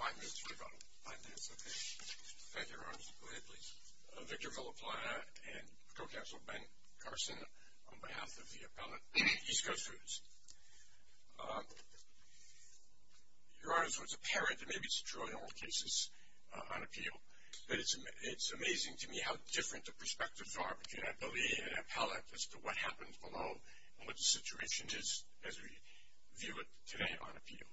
Thank you, Your Honor. Go ahead, please. Victor Villapalata and Co-Counsel Ben Carson on behalf of the appellate, East Coast Foods. Your Honor, so it's apparent, and maybe it's true in all cases on appeal, that it's amazing to me how different the perspectives are between an appellee and an appellate as to what happens below and what the situation is as we view it today on appeal.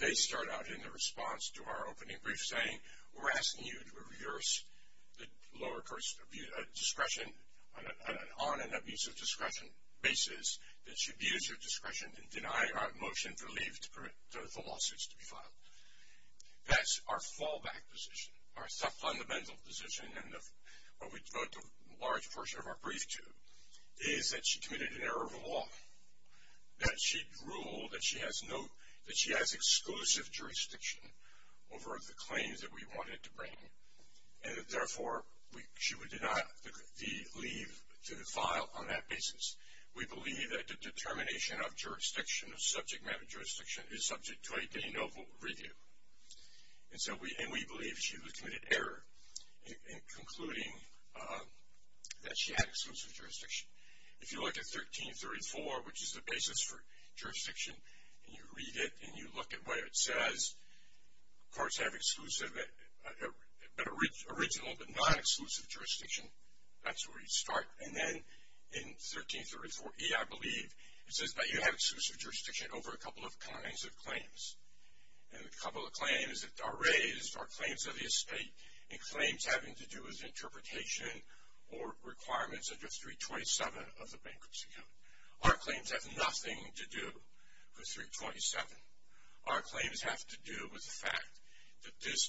They start out in the response to our opening brief saying, we're asking you to reverse the lower court's discretion on an abuse of discretion basis that you abuse your discretion and deny our motion to leave the lawsuit to be filed. That's our fallback position, our fundamental position, and what we devote a large portion of our brief to is that she committed an error of the law, that she ruled that she has exclusive jurisdiction over the claims that we wanted to bring, and that, therefore, she would deny the leave to be filed on that basis. We believe that the determination of jurisdiction, of subject matter jurisdiction, is subject to a de novo review, and we believe she was committed error in concluding that she had exclusive jurisdiction. If you look at 1334, which is the basis for jurisdiction, and you read it and you look at where it says courts have exclusive, but original but non-exclusive jurisdiction, that's where you start. And then in 1334E, I believe, it says that you have exclusive jurisdiction over a couple of kinds of claims, and a couple of claims that are raised are claims of the estate and claims having to do with interpretation or requirements under 327 of the bankruptcy code. Our claims have nothing to do with 327. Our claims have to do with the fact that this,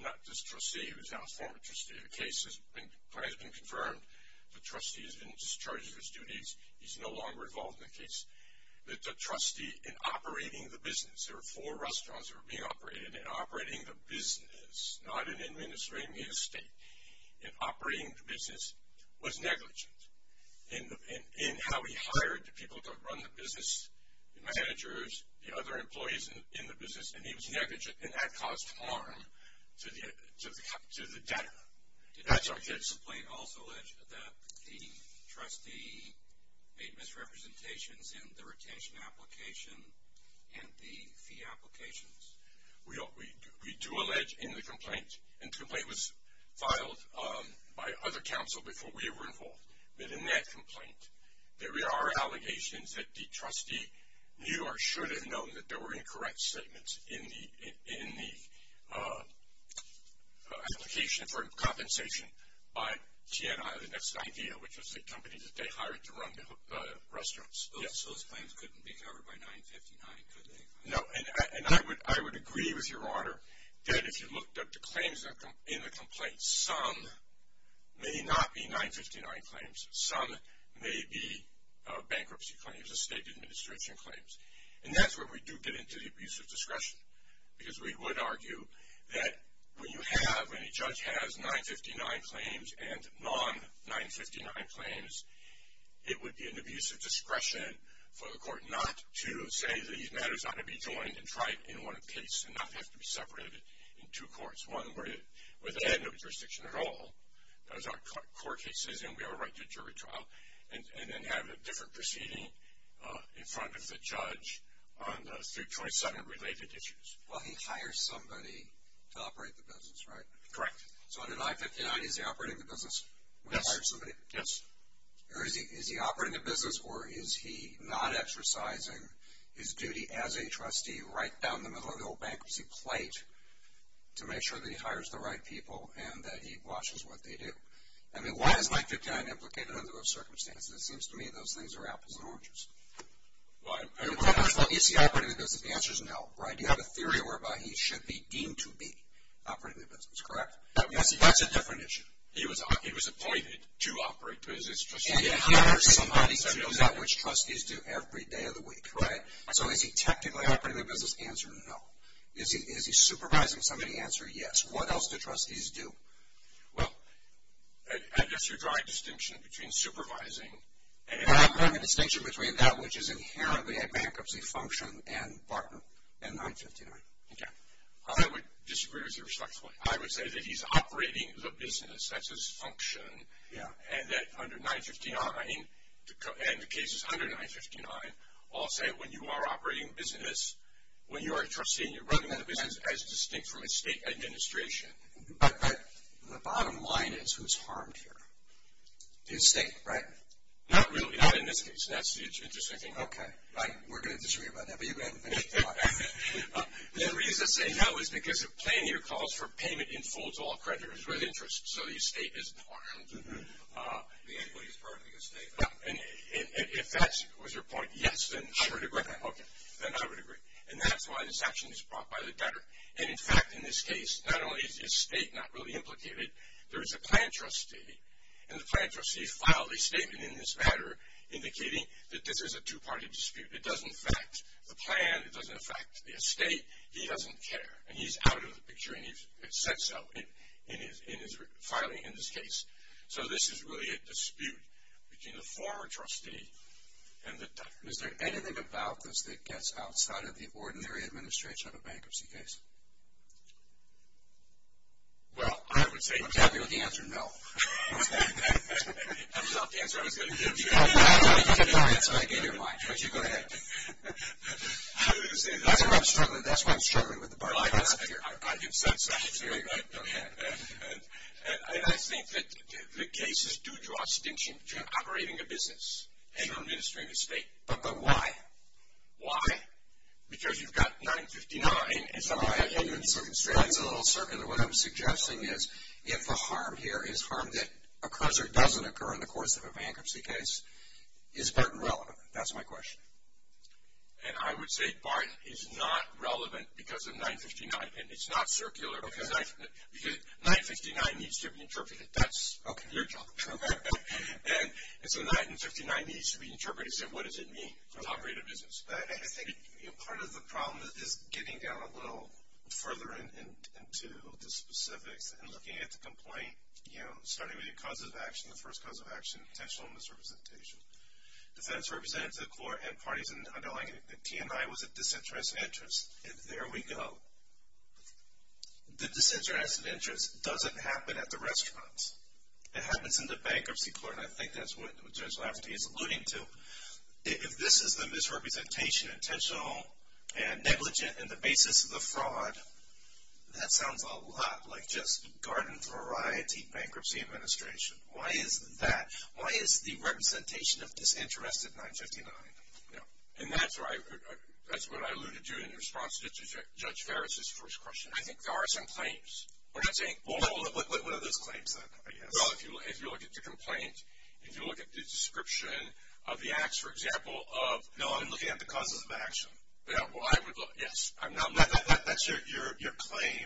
not this trustee who is now a former trustee, the case has been confirmed, the trustee has been discharged of his duties, he's no longer involved in the case, that the trustee in operating the business, there were four restaurants that were being operated, not in administering the estate, in operating the business was negligent in how he hired the people to run the business, the managers, the other employees in the business, and he was negligent, and that caused harm to the debtor. That's our case. This complaint also alleged that the trustee made misrepresentations in the retention application and the fee applications. We do allege in the complaint, and the complaint was filed by other counsel before we were involved, that in that complaint there are allegations that the trustee knew or should have known that there were incorrect statements in the application for compensation by TNI, the next idea, which was the company that they hired to run the restaurants. Yes? Those claims couldn't be covered by 959, could they? No, and I would agree with your honor that if you looked up the claims in the complaint, some may not be 959 claims, some may be bankruptcy claims, estate administration claims, and that's where we do get into the abuse of discretion, because we would argue that when you have, when a judge has 959 claims and non-959 claims, it would be an abuse of discretion for the court not to say that these matters ought to be joined and tried in one case and not have to be separated in two courts, one where they had no jurisdiction at all, that was our court case, and we have a right to jury trial, and then have a different proceeding in front of the judge on the 327 related issues. Well, he hires somebody to operate the business, right? Correct. So under 959, is he operating the business when he hires somebody? Yes. Or is he operating the business or is he not exercising his duty as a trustee right down the middle of the whole bankruptcy plate to make sure that he hires the right people and that he watches what they do? I mean, why is 959 implicated under those circumstances? It seems to me those things are apples and oranges. Is he operating the business? The answer is no, right? You have a theory whereby he should be deemed to be operating the business, correct? That's a different issue. He was appointed to operate the business. And he hires somebody to do that, which trustees do every day of the week, right? So is he technically operating the business? Answer, no. Is he supervising somebody? Answer, yes. What else do trustees do? Well, I guess you're drawing a distinction between supervising. Well, I'm drawing a distinction between that which is inherently a bankruptcy function and 959. Okay. I would disagree with you respectfully. I would say that he's operating the business. That's his function. Yeah. And that under 959, and the cases under 959 all say when you are operating business, when you are a trustee, you're running the business as distinct from a state administration. But the bottom line is who's harmed here? The estate, right? Not really. Not in this case. That's the interesting thing. Okay. Right. We're going to disagree about that, but you've got to finish the talk. The reason I say no is because a plan here calls for payment in full to all creditors with interest, so the estate isn't harmed. The equity is part of the estate. And if that was your point, yes, then I would agree. Okay. Then I would agree. And that's why this action is brought by the debtor. And, in fact, in this case, not only is the estate not really implicated, there is a plan trustee. And the plan trustee filed a statement in this matter indicating that this is a two-party dispute. It doesn't affect the plan. It doesn't affect the estate. He doesn't care. And he's out of the picture, and he's said so in his filing in this case. So this is really a dispute between the former trustee and the debtor. Is there anything about this that gets outside of the ordinary administration of a bankruptcy case? Well, I would say definitely. I'm happy with the answer no. That was not the answer I was going to give you. That's fine. That's fine. I get your line. Go ahead. I was going to say that. That's why I'm struggling. That's why I'm struggling with the bargaining system here. I can sense that. There you go. Go ahead. And I think that the cases do draw a distinction between operating a business and administering the estate. But why? Why? Because you've got 959, and some of the arguments are a little circular. What I'm suggesting is if the harm here is harm that occurs or doesn't occur in the course of a bankruptcy case, is Barton relevant? That's my question. And I would say Barton is not relevant because of 959. And it's not circular because 959 needs to be interpreted. That's your job. Okay. And so 959 needs to be interpreted. So what does it mean to operate a business? I think part of the problem is getting down a little further into the specifics and looking at the complaint, you know, starting with the causes of action, the first cause of action, potential misrepresentation. Defense representatives of the court and parties in the underlying T&I was a disinterested interest. And there we go. The disinterested interest doesn't happen at the restaurants. It happens in the bankruptcy court, and I think that's what Judge Lafferty is alluding to. If this is the misrepresentation, intentional and negligent, and the basis of the fraud, that sounds a lot like just garden variety bankruptcy administration. Why is that? Why is the representation of disinterest at 959? And that's what I alluded to in response to Judge Farris' first question. I think there are some claims. We're not saying all of them. What are those claims, then, I guess? Well, if you look at the complaint, if you look at the description of the acts, for example, of... No, I'm looking at the causes of action. Well, I would look, yes. That's your claim,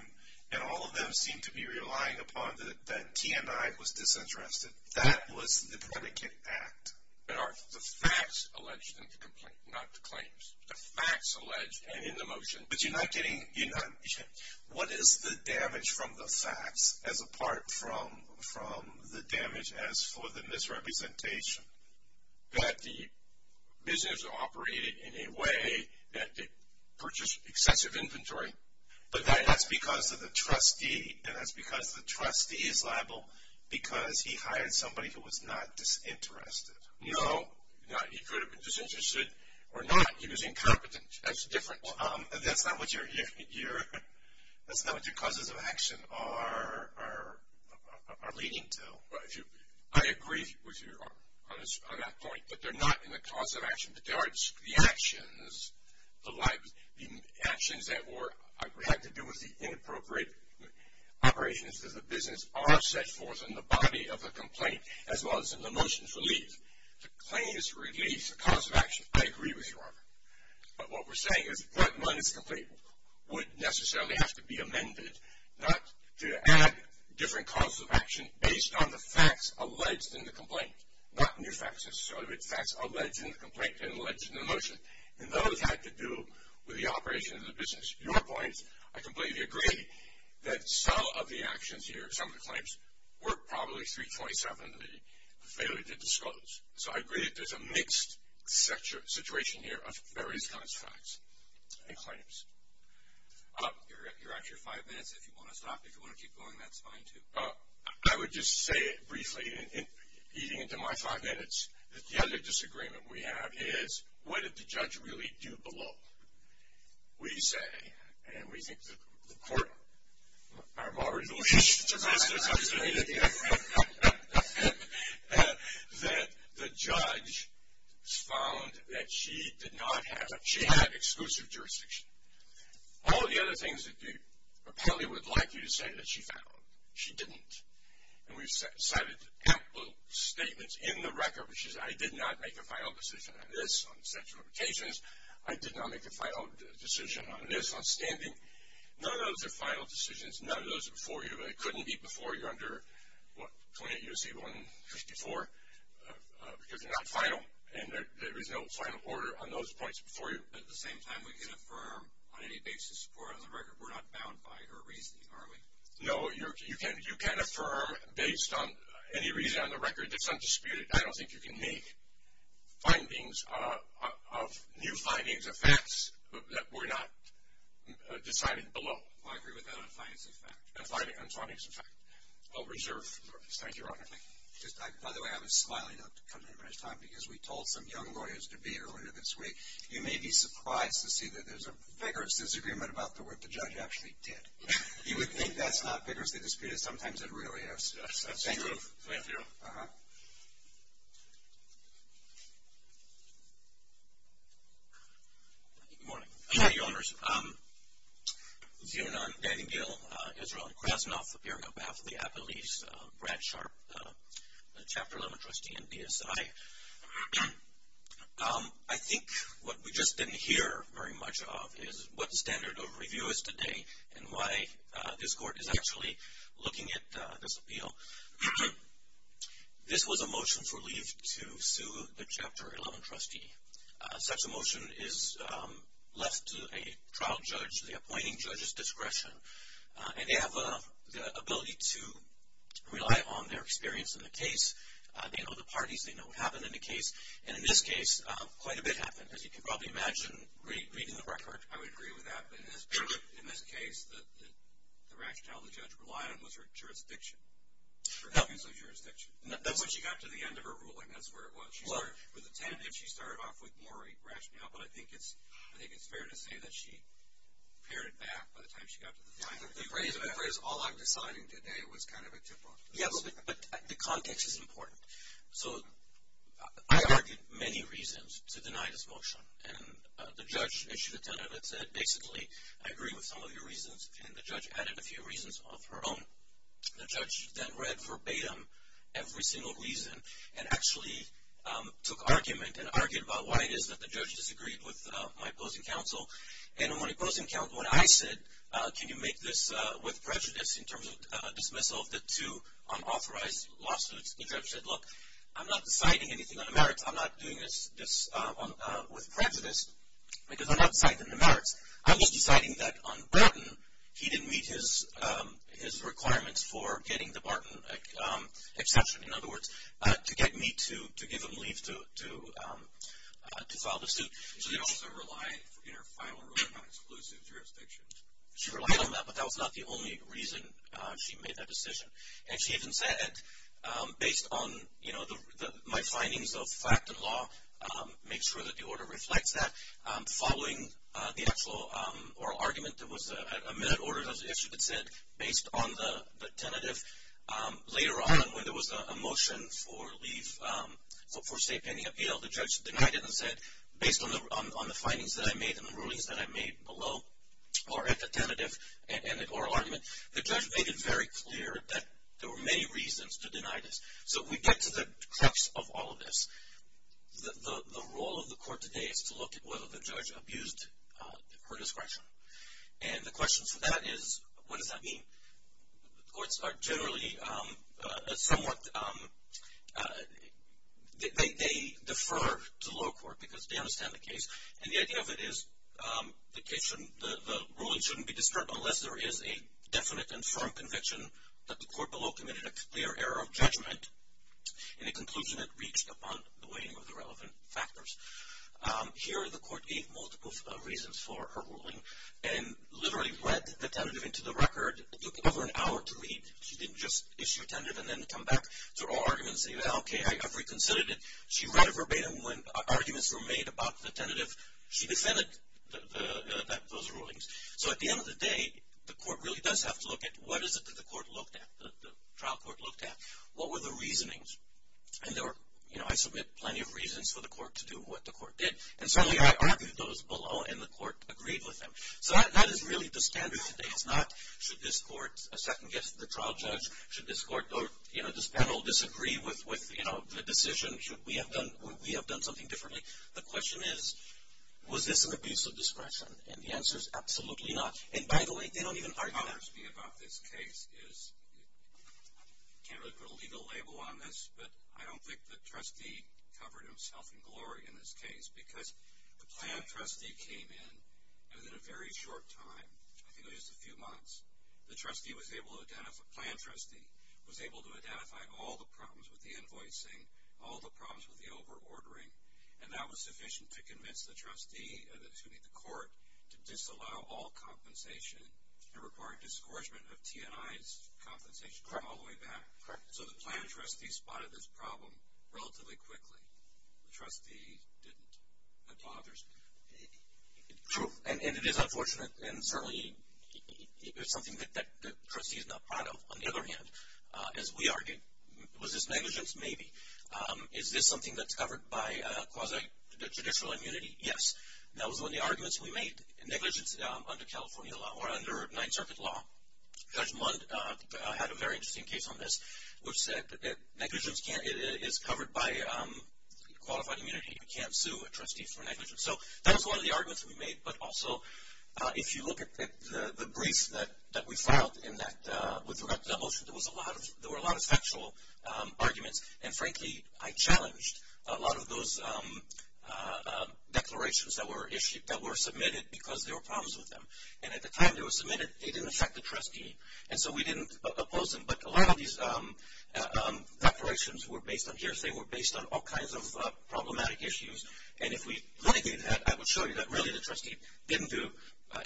and all of them seem to be relying upon that T&I was disinterested. That was the predicate act. But are the facts alleged in the complaint, not the claims? The facts allege, and in the motion... But you're not getting... What is the damage from the facts as apart from the damage as for the misrepresentation? That the business operated in a way that it purchased excessive inventory. But that's because of the trustee, and that's because the trustee is liable because he hired somebody who was not disinterested. No, he could have been disinterested or not. He was incompetent. That's different. That's not what your causes of action are leading to. I agree with you on that point. But they're not in the cause of action. The actions that had to do with the inappropriate operations of the business are set forth in the body of the complaint as well as in the motion for leave. The claim is to release the cause of action. I agree with you on that. But what we're saying is that one's complaint would necessarily have to be amended, not to add different causes of action based on the facts alleged in the complaint, not new facts. So the facts alleged in the complaint and alleged in the motion. And those had to do with the operation of the business. Your point, I completely agree that some of the actions here, some of the claims, were probably 327, the failure to disclose. So I agree that there's a mixed situation here of various kinds of facts and claims. You're at your five minutes. If you want to stop, if you want to keep going, that's fine too. I would just say briefly, eating into my five minutes, that the other disagreement we have is, what did the judge really do below? We say, and we think the court are more resolute, that the judge found that she did not have, she had exclusive jurisdiction. All of the other things that you probably would like you to say that she found, she didn't. And we've cited a couple of statements in the record, which is, I did not make a final decision on this, on sexual limitations. I did not make a final decision on this, on standing. None of those are final decisions. None of those are before you. They couldn't be before you under, what, 28 U.C. 154, because they're not final. And there is no final order on those points before you. At the same time, we can affirm on any basis before us on the record, we're not bound by her reasoning, are we? No, you can't affirm based on any reason on the record that's undisputed. I don't think you can make findings of new findings of facts that were not decided below. I agree with that on findings of fact. On findings of fact. I'll reserve. Thank you, Your Honor. Thank you. By the way, I was smiling up to come to the restaurant because we told some young lawyers to be here earlier this week. You may be surprised to see that there's a vigorous disagreement about the work the judge actually did. You would think that's not vigorously disputed. Sometimes it really is. That's true. Uh-huh. Good morning. Good morning, Your Honors. Zeonon Danningill, Israel Krasnoff, appearing on behalf of the appellees, Brad Sharp, Chapter 11 trustee in BSI. I think what we just didn't hear very much of is what the standard of review is today and why this court is actually looking at this appeal. This was a motion for leave to sue the Chapter 11 trustee. Such a motion is left to a trial judge, the appointing judge's discretion, and they have the ability to rely on their experience in the case. They know the parties. They know what happened in the case. And in this case, quite a bit happened, as you can probably imagine reading the record. I would agree with that. But in this case, the rationale the judge relied on was her jurisdiction, her refusal of jurisdiction. When she got to the end of her ruling, that's where it was. She started with a tentative. She started off with more rationale. But I think it's fair to say that she pared it back by the time she got to the final. The phrase, all I'm deciding today, was kind of a tip off. Yes, but the context is important. So I argued many reasons to deny this motion. And the judge issued a tentative and said, basically, I agree with some of your reasons. And the judge added a few reasons of her own. The judge then read verbatim every single reason and actually took argument and argued about why it is that the judge disagreed with my opposing counsel. And when opposing counsel and I said, can you make this with prejudice in terms of dismissal of the two unauthorized lawsuits, the judge said, look, I'm not deciding anything on the merits. I'm not doing this with prejudice because I'm not deciding the merits. I'm just deciding that on Barton, he didn't meet his requirements for getting the Barton exception, in other words, to get me to give him leave to file the suit. She also relied in her final ruling on exclusive jurisdiction. She relied on that, but that was not the only reason she made that decision. And she even said, based on my findings of fact and law, make sure that the order reflects that. Following the actual oral argument, there was a minute order that was issued that said, based on the tentative, later on when there was a motion for leave for state pending appeal, the judge denied it and said, based on the findings that I made and the rulings that I made below, or at the tentative and the oral argument, the judge made it very clear that there were many reasons to deny this. So we get to the crux of all of this. The role of the court today is to look at whether the judge abused her discretion. Courts are generally somewhat, they defer to the lower court because they understand the case. And the idea of it is the ruling shouldn't be disturbed unless there is a definite and firm conviction that the court below committed a clear error of judgment in a conclusion that reached upon the weighing of the relevant factors. Here, the court gave multiple reasons for her ruling and literally read the tentative into the record. It took over an hour to read. She didn't just issue a tentative and then come back to oral arguments and say, okay, I've reconsidered it. She read it verbatim when arguments were made about the tentative. She defended those rulings. So at the end of the day, the court really does have to look at what is it that the court looked at, the trial court looked at. What were the reasonings? And there were, you know, I submit plenty of reasons for the court to do what the court did. And certainly I argued those below and the court agreed with them. So that is really the standard today. It's not should this court second guess the trial judge, should this court or, you know, this panel disagree with, you know, the decision? Should we have done something differently? The question is, was this an abuse of discretion? And the answer is absolutely not. And by the way, they don't even argue that. What concerns me about this case is I can't really put a legal label on this, but I don't think the trustee covered himself in glory in this case, because the plan trustee came in within a very short time, I think it was just a few months. The trustee was able to identify the plan trustee was able to identify all the problems with the invoicing, all the problems with the overordering, and that was sufficient to convince the trustee, excuse me, the court, to disallow all compensation and require a disgorgement of T&I's compensation from all the way back. Correct. So the plan trustee spotted this problem relatively quickly. The trustee didn't. That bothers me. True. And it is unfortunate, and certainly it's something that the trustee is not proud of. On the other hand, as we argued, was this negligence? Maybe. Is this something that's covered by quasi-judicial immunity? Yes. That was one of the arguments we made. Negligence under California law or under Ninth Circuit law, Judge Mundt had a very interesting case on this, which said negligence is covered by qualified immunity. You can't sue a trustee for negligence. So that was one of the arguments we made, but also if you look at the brief that we filed in that motion, there were a lot of factual arguments, and, frankly, I challenged a lot of those declarations that were submitted because there were problems with them. And at the time they were submitted, they didn't affect the trustee, and so we didn't oppose them. But a lot of these declarations were based on hearsay, were based on all kinds of problematic issues, and if we litigated that, I would show you that really the trustee didn't do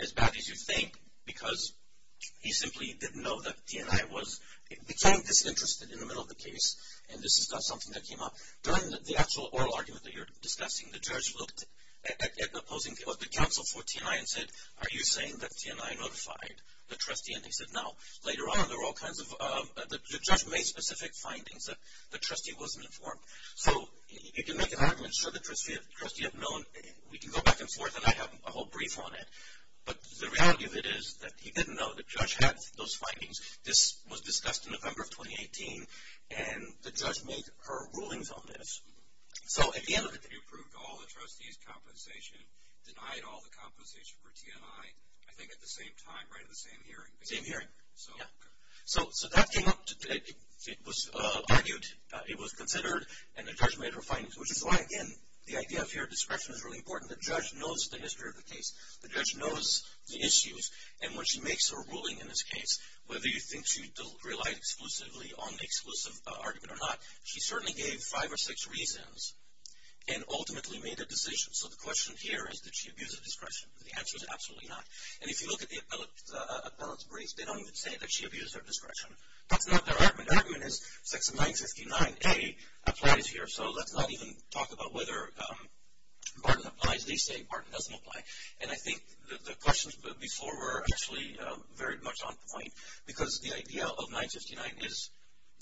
as bad as you think because he simply didn't know that T&I became disinterested in the middle of the case and this is not something that came up. During the actual oral argument that you're discussing, the judge looked at opposing the counsel for T&I and said, are you saying that T&I notified the trustee? And he said, no. Later on, there were all kinds of – the judge made specific findings that the trustee wasn't informed. So you can make an argument to show the trustee had known. We can go back and forth, and I have a whole brief on it. But the reality of it is that he didn't know the judge had those findings. This was discussed in November of 2018, and the judge made her rulings on this. So at the end of it, he approved all the trustees' compensation, denied all the compensation for T&I, I think at the same time, right at the same hearing. Same hearing, yeah. So that came up today. It was argued, it was considered, and the judge made her findings, which is why, again, the idea of fair discretion is really important. The judge knows the history of the case. The judge knows the issues, and when she makes her ruling in this case, whether you think she relied exclusively on the exclusive argument or not, she certainly gave five or six reasons and ultimately made a decision. So the question here is, did she abuse her discretion? The answer is absolutely not. And if you look at the appellate's briefs, they don't even say that she abused her discretion. That's not their argument. Their argument is Section 959A applies here, so let's not even talk about whether Barton applies. As they say, Barton doesn't apply. And I think the questions before were actually very much on point, because the idea of 959 is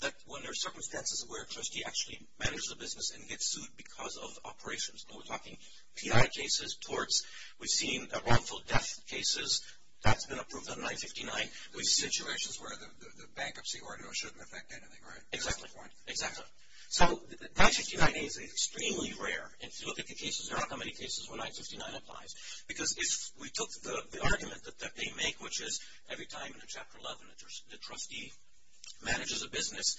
that when there are circumstances where a trustee actually manages a business and gets sued because of operations, and we're talking T&I cases, torts, we've seen wrongful death cases, that's been approved on 959. There's situations where the bankruptcy order shouldn't affect anything, right? Exactly, exactly. So 959A is extremely rare. And if you look at the cases, there aren't that many cases where 959 applies, because if we took the argument that they make, which is every time in Chapter 11, the trustee manages a business,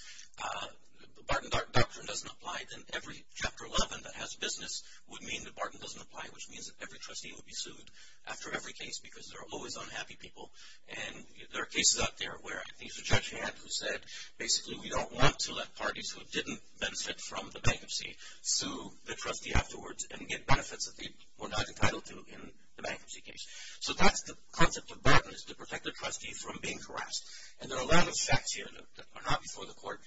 the Barton doctrine doesn't apply, then every Chapter 11 that has business would mean that Barton doesn't apply, which means that every trustee would be sued after every case because there are always unhappy people. And there are cases out there where I think it was Judge Hand who said, basically, we don't want to let parties who didn't benefit from the bankruptcy sue the trustee afterwards and get benefits that they were not entitled to in the bankruptcy case. So that's the concept of Barton, is to protect the trustee from being harassed. And there are a lot of facts here that are not before the court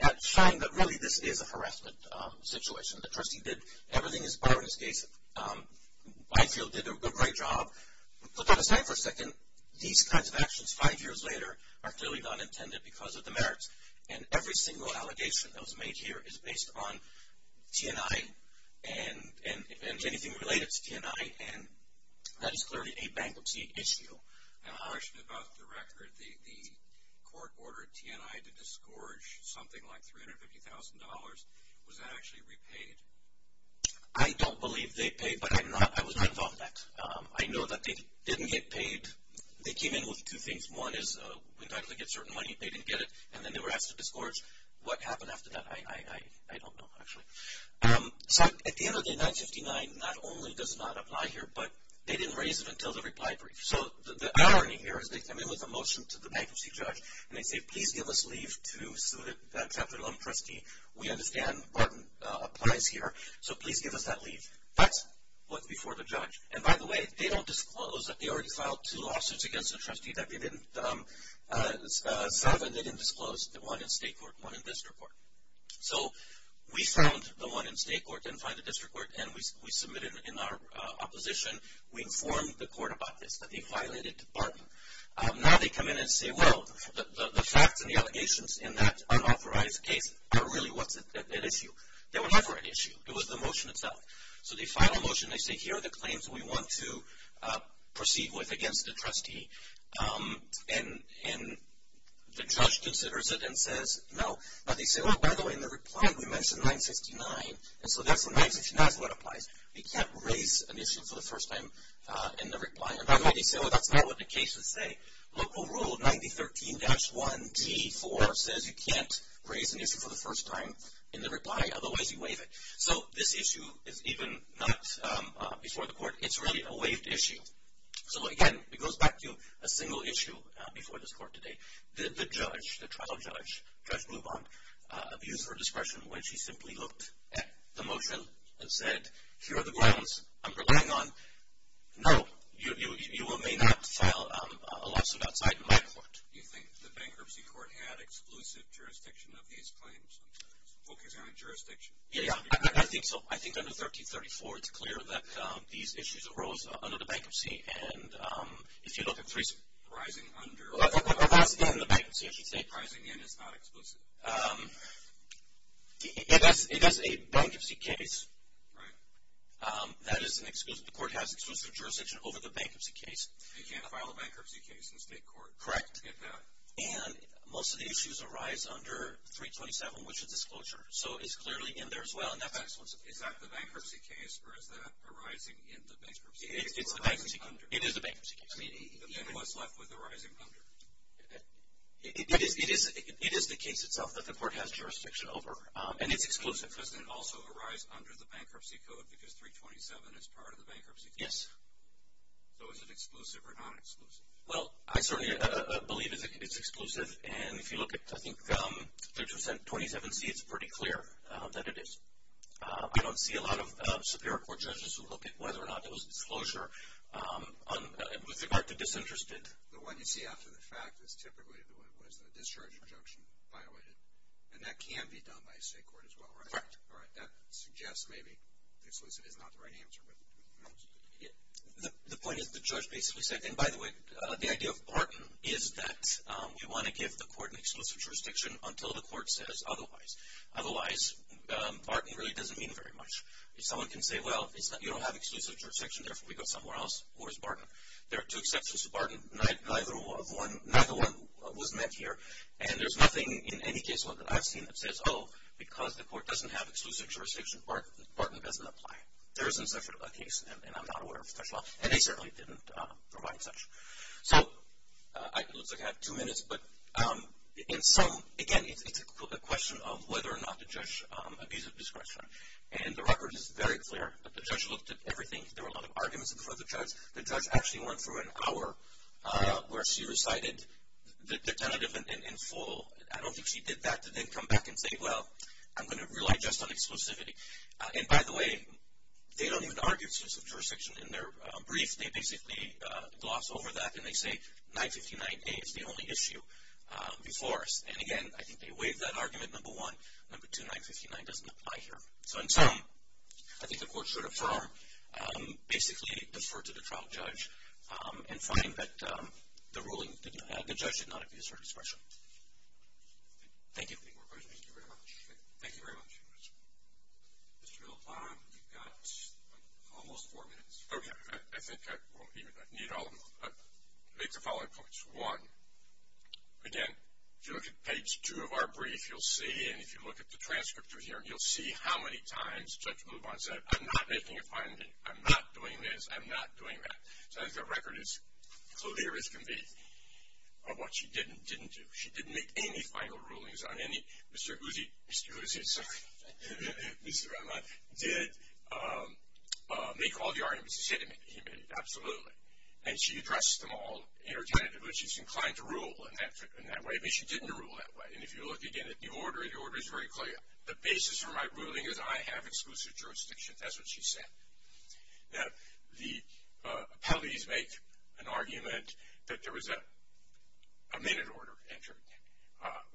that shine that really this is a harassment situation. The trustee did everything as bar in this case. Put that aside for a second. These kinds of actions five years later are clearly not intended because of the merits. And every single allegation that was made here is based on T&I and anything related to T&I, and that is clearly a bankruptcy issue. And I'm asking about the record. The court ordered T&I to disgorge something like $350,000. Was that actually repaid? I don't believe they paid, but I was not involved in that. I know that they didn't get paid. They came in with two things. One is entitled to get certain money. They didn't get it, and then they were asked to disgorge. What happened after that, I don't know, actually. So at the end of the day, 959 not only does not apply here, but they didn't raise it until the reply brief. So the irony here is they come in with a motion to the bankruptcy judge, and they say, please give us leave to sue that chapter 11 trustee. We understand Barton applies here, so please give us that leave. That's what's before the judge. And, by the way, they don't disclose that they already filed two lawsuits against the trustee that they didn't solve and they didn't disclose the one in state court and one in district court. So we found the one in state court, didn't find it in district court, and we submitted it in our opposition. We informed the court about this, that they violated Barton. Now they come in and say, well, the facts and the allegations in that unauthorized case are really what's at issue. They were never at issue. It was the motion itself. So they file a motion. They say, here are the claims we want to proceed with against the trustee. And the judge considers it and says no. But they say, well, by the way, in the reply we mentioned 969, and so that's what applies. You can't raise an issue for the first time in the reply. And, by the way, they say, well, that's not what the cases say. Local rule 9013-1T4 says you can't raise an issue for the first time in the reply, otherwise you waive it. So this issue is even not before the court. It's really a waived issue. So, again, it goes back to a single issue before this court today. Did the judge, the trial judge, Judge Blubond, abuse her discretion when she simply looked at the motion and said, here are the grounds I'm relying on? No, you may not file a lawsuit outside my court. Do you think the bankruptcy court had exclusive jurisdiction of these claims, focusing on jurisdiction? Yeah, I think so. I think under 1334 it's clear that these issues arose under the bankruptcy. And if you look at three ‑‑ Rising under. Well, that's then the bankruptcy, I should say. Rising in is not exclusive. It is a bankruptcy case. Right. That is an exclusive. The court has exclusive jurisdiction over the bankruptcy case. You can't file a bankruptcy case in state court. Correct. And most of the issues arise under 327, which is disclosure. So it's clearly in there as well. Is that the bankruptcy case, or is that arising in the bankruptcy case? It is the bankruptcy case. Then what's left with arising under? It is the case itself that the court has jurisdiction over, and it's exclusive. Does it also arise under the bankruptcy code, because 327 is part of the bankruptcy case? Yes. So is it exclusive or non‑exclusive? Well, I certainly believe it's exclusive. And if you look at, I think, 327C, it's pretty clear that it is. I don't see a lot of Superior Court judges who look at whether or not it was disclosure with regard to disinterested. The one you see after the fact is typically the one that was the discharge injunction violated, and that can be done by state court as well, right? Correct. All right, that suggests maybe the solution is not the right answer. The point is the judge basically said, and by the way, the idea of Barton is that we want to give the court an exclusive jurisdiction until the court says otherwise. Otherwise, Barton really doesn't mean very much. If someone can say, well, you don't have exclusive jurisdiction, therefore we go somewhere else, where's Barton? There are two exceptions to Barton. Neither one was met here, and there's nothing in any case that I've seen that says, oh, because the court doesn't have exclusive jurisdiction, Barton doesn't apply. There isn't such a case, and I'm not aware of such law, and they certainly didn't provide such. So it looks like I have two minutes, but in sum, again, it's a question of whether or not the judge abused discretion. And the record is very clear that the judge looked at everything. There were a lot of arguments before the judge. The judge actually went through an hour where she recited the tentative in full. I don't think she did that to then come back and say, well, I'm going to rely just on exclusivity. And, by the way, they don't even argue exclusive jurisdiction in their brief. They basically gloss over that, and they say 959A is the only issue before us. And, again, I think they waive that argument, number one. Number two, 959 doesn't apply here. So in sum, I think the court should affirm, basically defer to the trial judge and find that the judge did not abuse her discretion. Thank you. Any more questions? Thank you very much. Mr. Lubon, you've got almost four minutes. Okay. I think I need to make the following points. One, again, if you look at page two of our brief, you'll see, and if you look at the transcript of here, you'll see how many times Judge Lubon said, I'm not making a finding. I'm not doing this. I'm not doing that. So I think the record is clear as can be of what she did and didn't do. She didn't make any final rulings on any Mr. Guzzi. Mr. Guzzi, I'm sorry. Mr. Rahman did make all the arguments he said he made. Absolutely. And she addressed them all interchangeably. She's inclined to rule in that way, but she didn't rule that way. And if you look again at the order, the order is very clear. The basis for my ruling is I have exclusive jurisdiction. That's what she said. Now, the appellees make an argument that there was a minute order entered.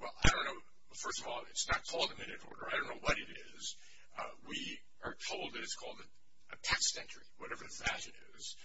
Well, I don't know. First of all, it's not called a minute order. I don't know what it is. We are told that it's called a text entry, whatever the fashion is.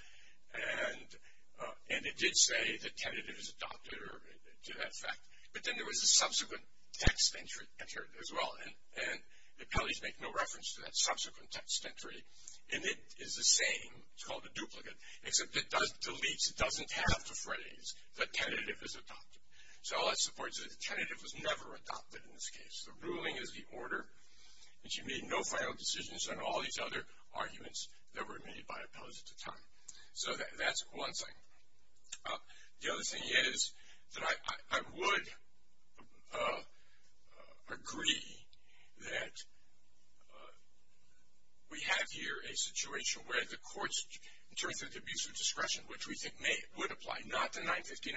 And it did say the tentative is adopted or to that effect. But then there was a subsequent text entry entered as well. And the appellees make no reference to that subsequent text entry. And it is the same. It's called a duplicate. Except it does delete. It doesn't have the phrase that tentative is adopted. So all that supports is the tentative was never adopted in this case. The ruling is the order. And she made no final decisions on all these other arguments that were made by appellees at the time. So that's one thing. The other thing is that I would agree that we have here a situation where the courts, in terms of the abuse of discretion, which we think would apply not to 959,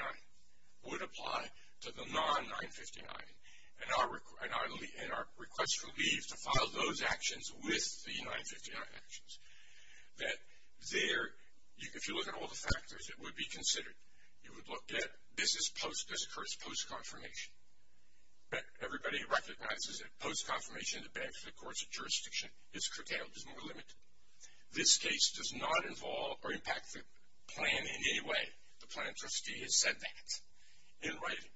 would apply to the non-959. And our request for leave to file those actions with the 959 actions. That there, if you look at all the factors, it would be considered. You would look at this is post-discourse, post-confirmation. Everybody recognizes that post-confirmation in the Bank of the Courts of Jurisdiction is curtailed, is more limited. This case does not involve or impact the plan in any way. The plan trustee has said that in writing.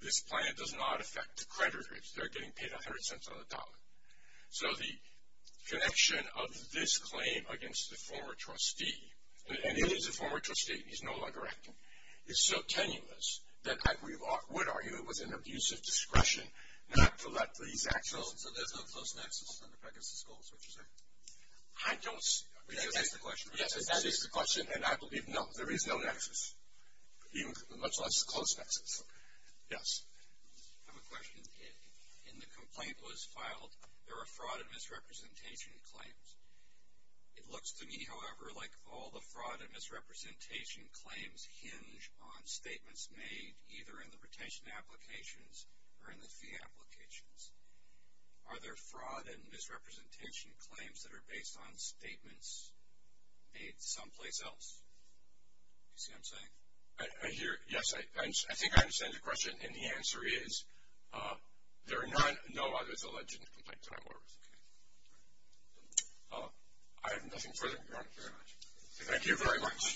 This plan does not affect creditors. They're getting paid 100 cents on the dollar. So the connection of this claim against the former trustee, and it is the former trustee, he's no longer acting, is so tenuous that I would argue it was an abuse of discretion not to let these actions. So there's no close nexus in the Pegasus goals, would you say? I don't see it. Is that the question? Yes, that is the question. And I believe, no, there is no nexus, much less close nexus. Yes. I have a question. In the complaint that was filed, there were fraud and misrepresentation claims. It looks to me, however, like all the fraud and misrepresentation claims hinge on statements made either in the retention applications or in the fee applications. Are there fraud and misrepresentation claims that are based on statements made someplace else? You see what I'm saying? Yes, I think I understand your question, and the answer is there are no others alleged in the complaint that I'm aware of. I have nothing further. Thank you very much. Thank you very much.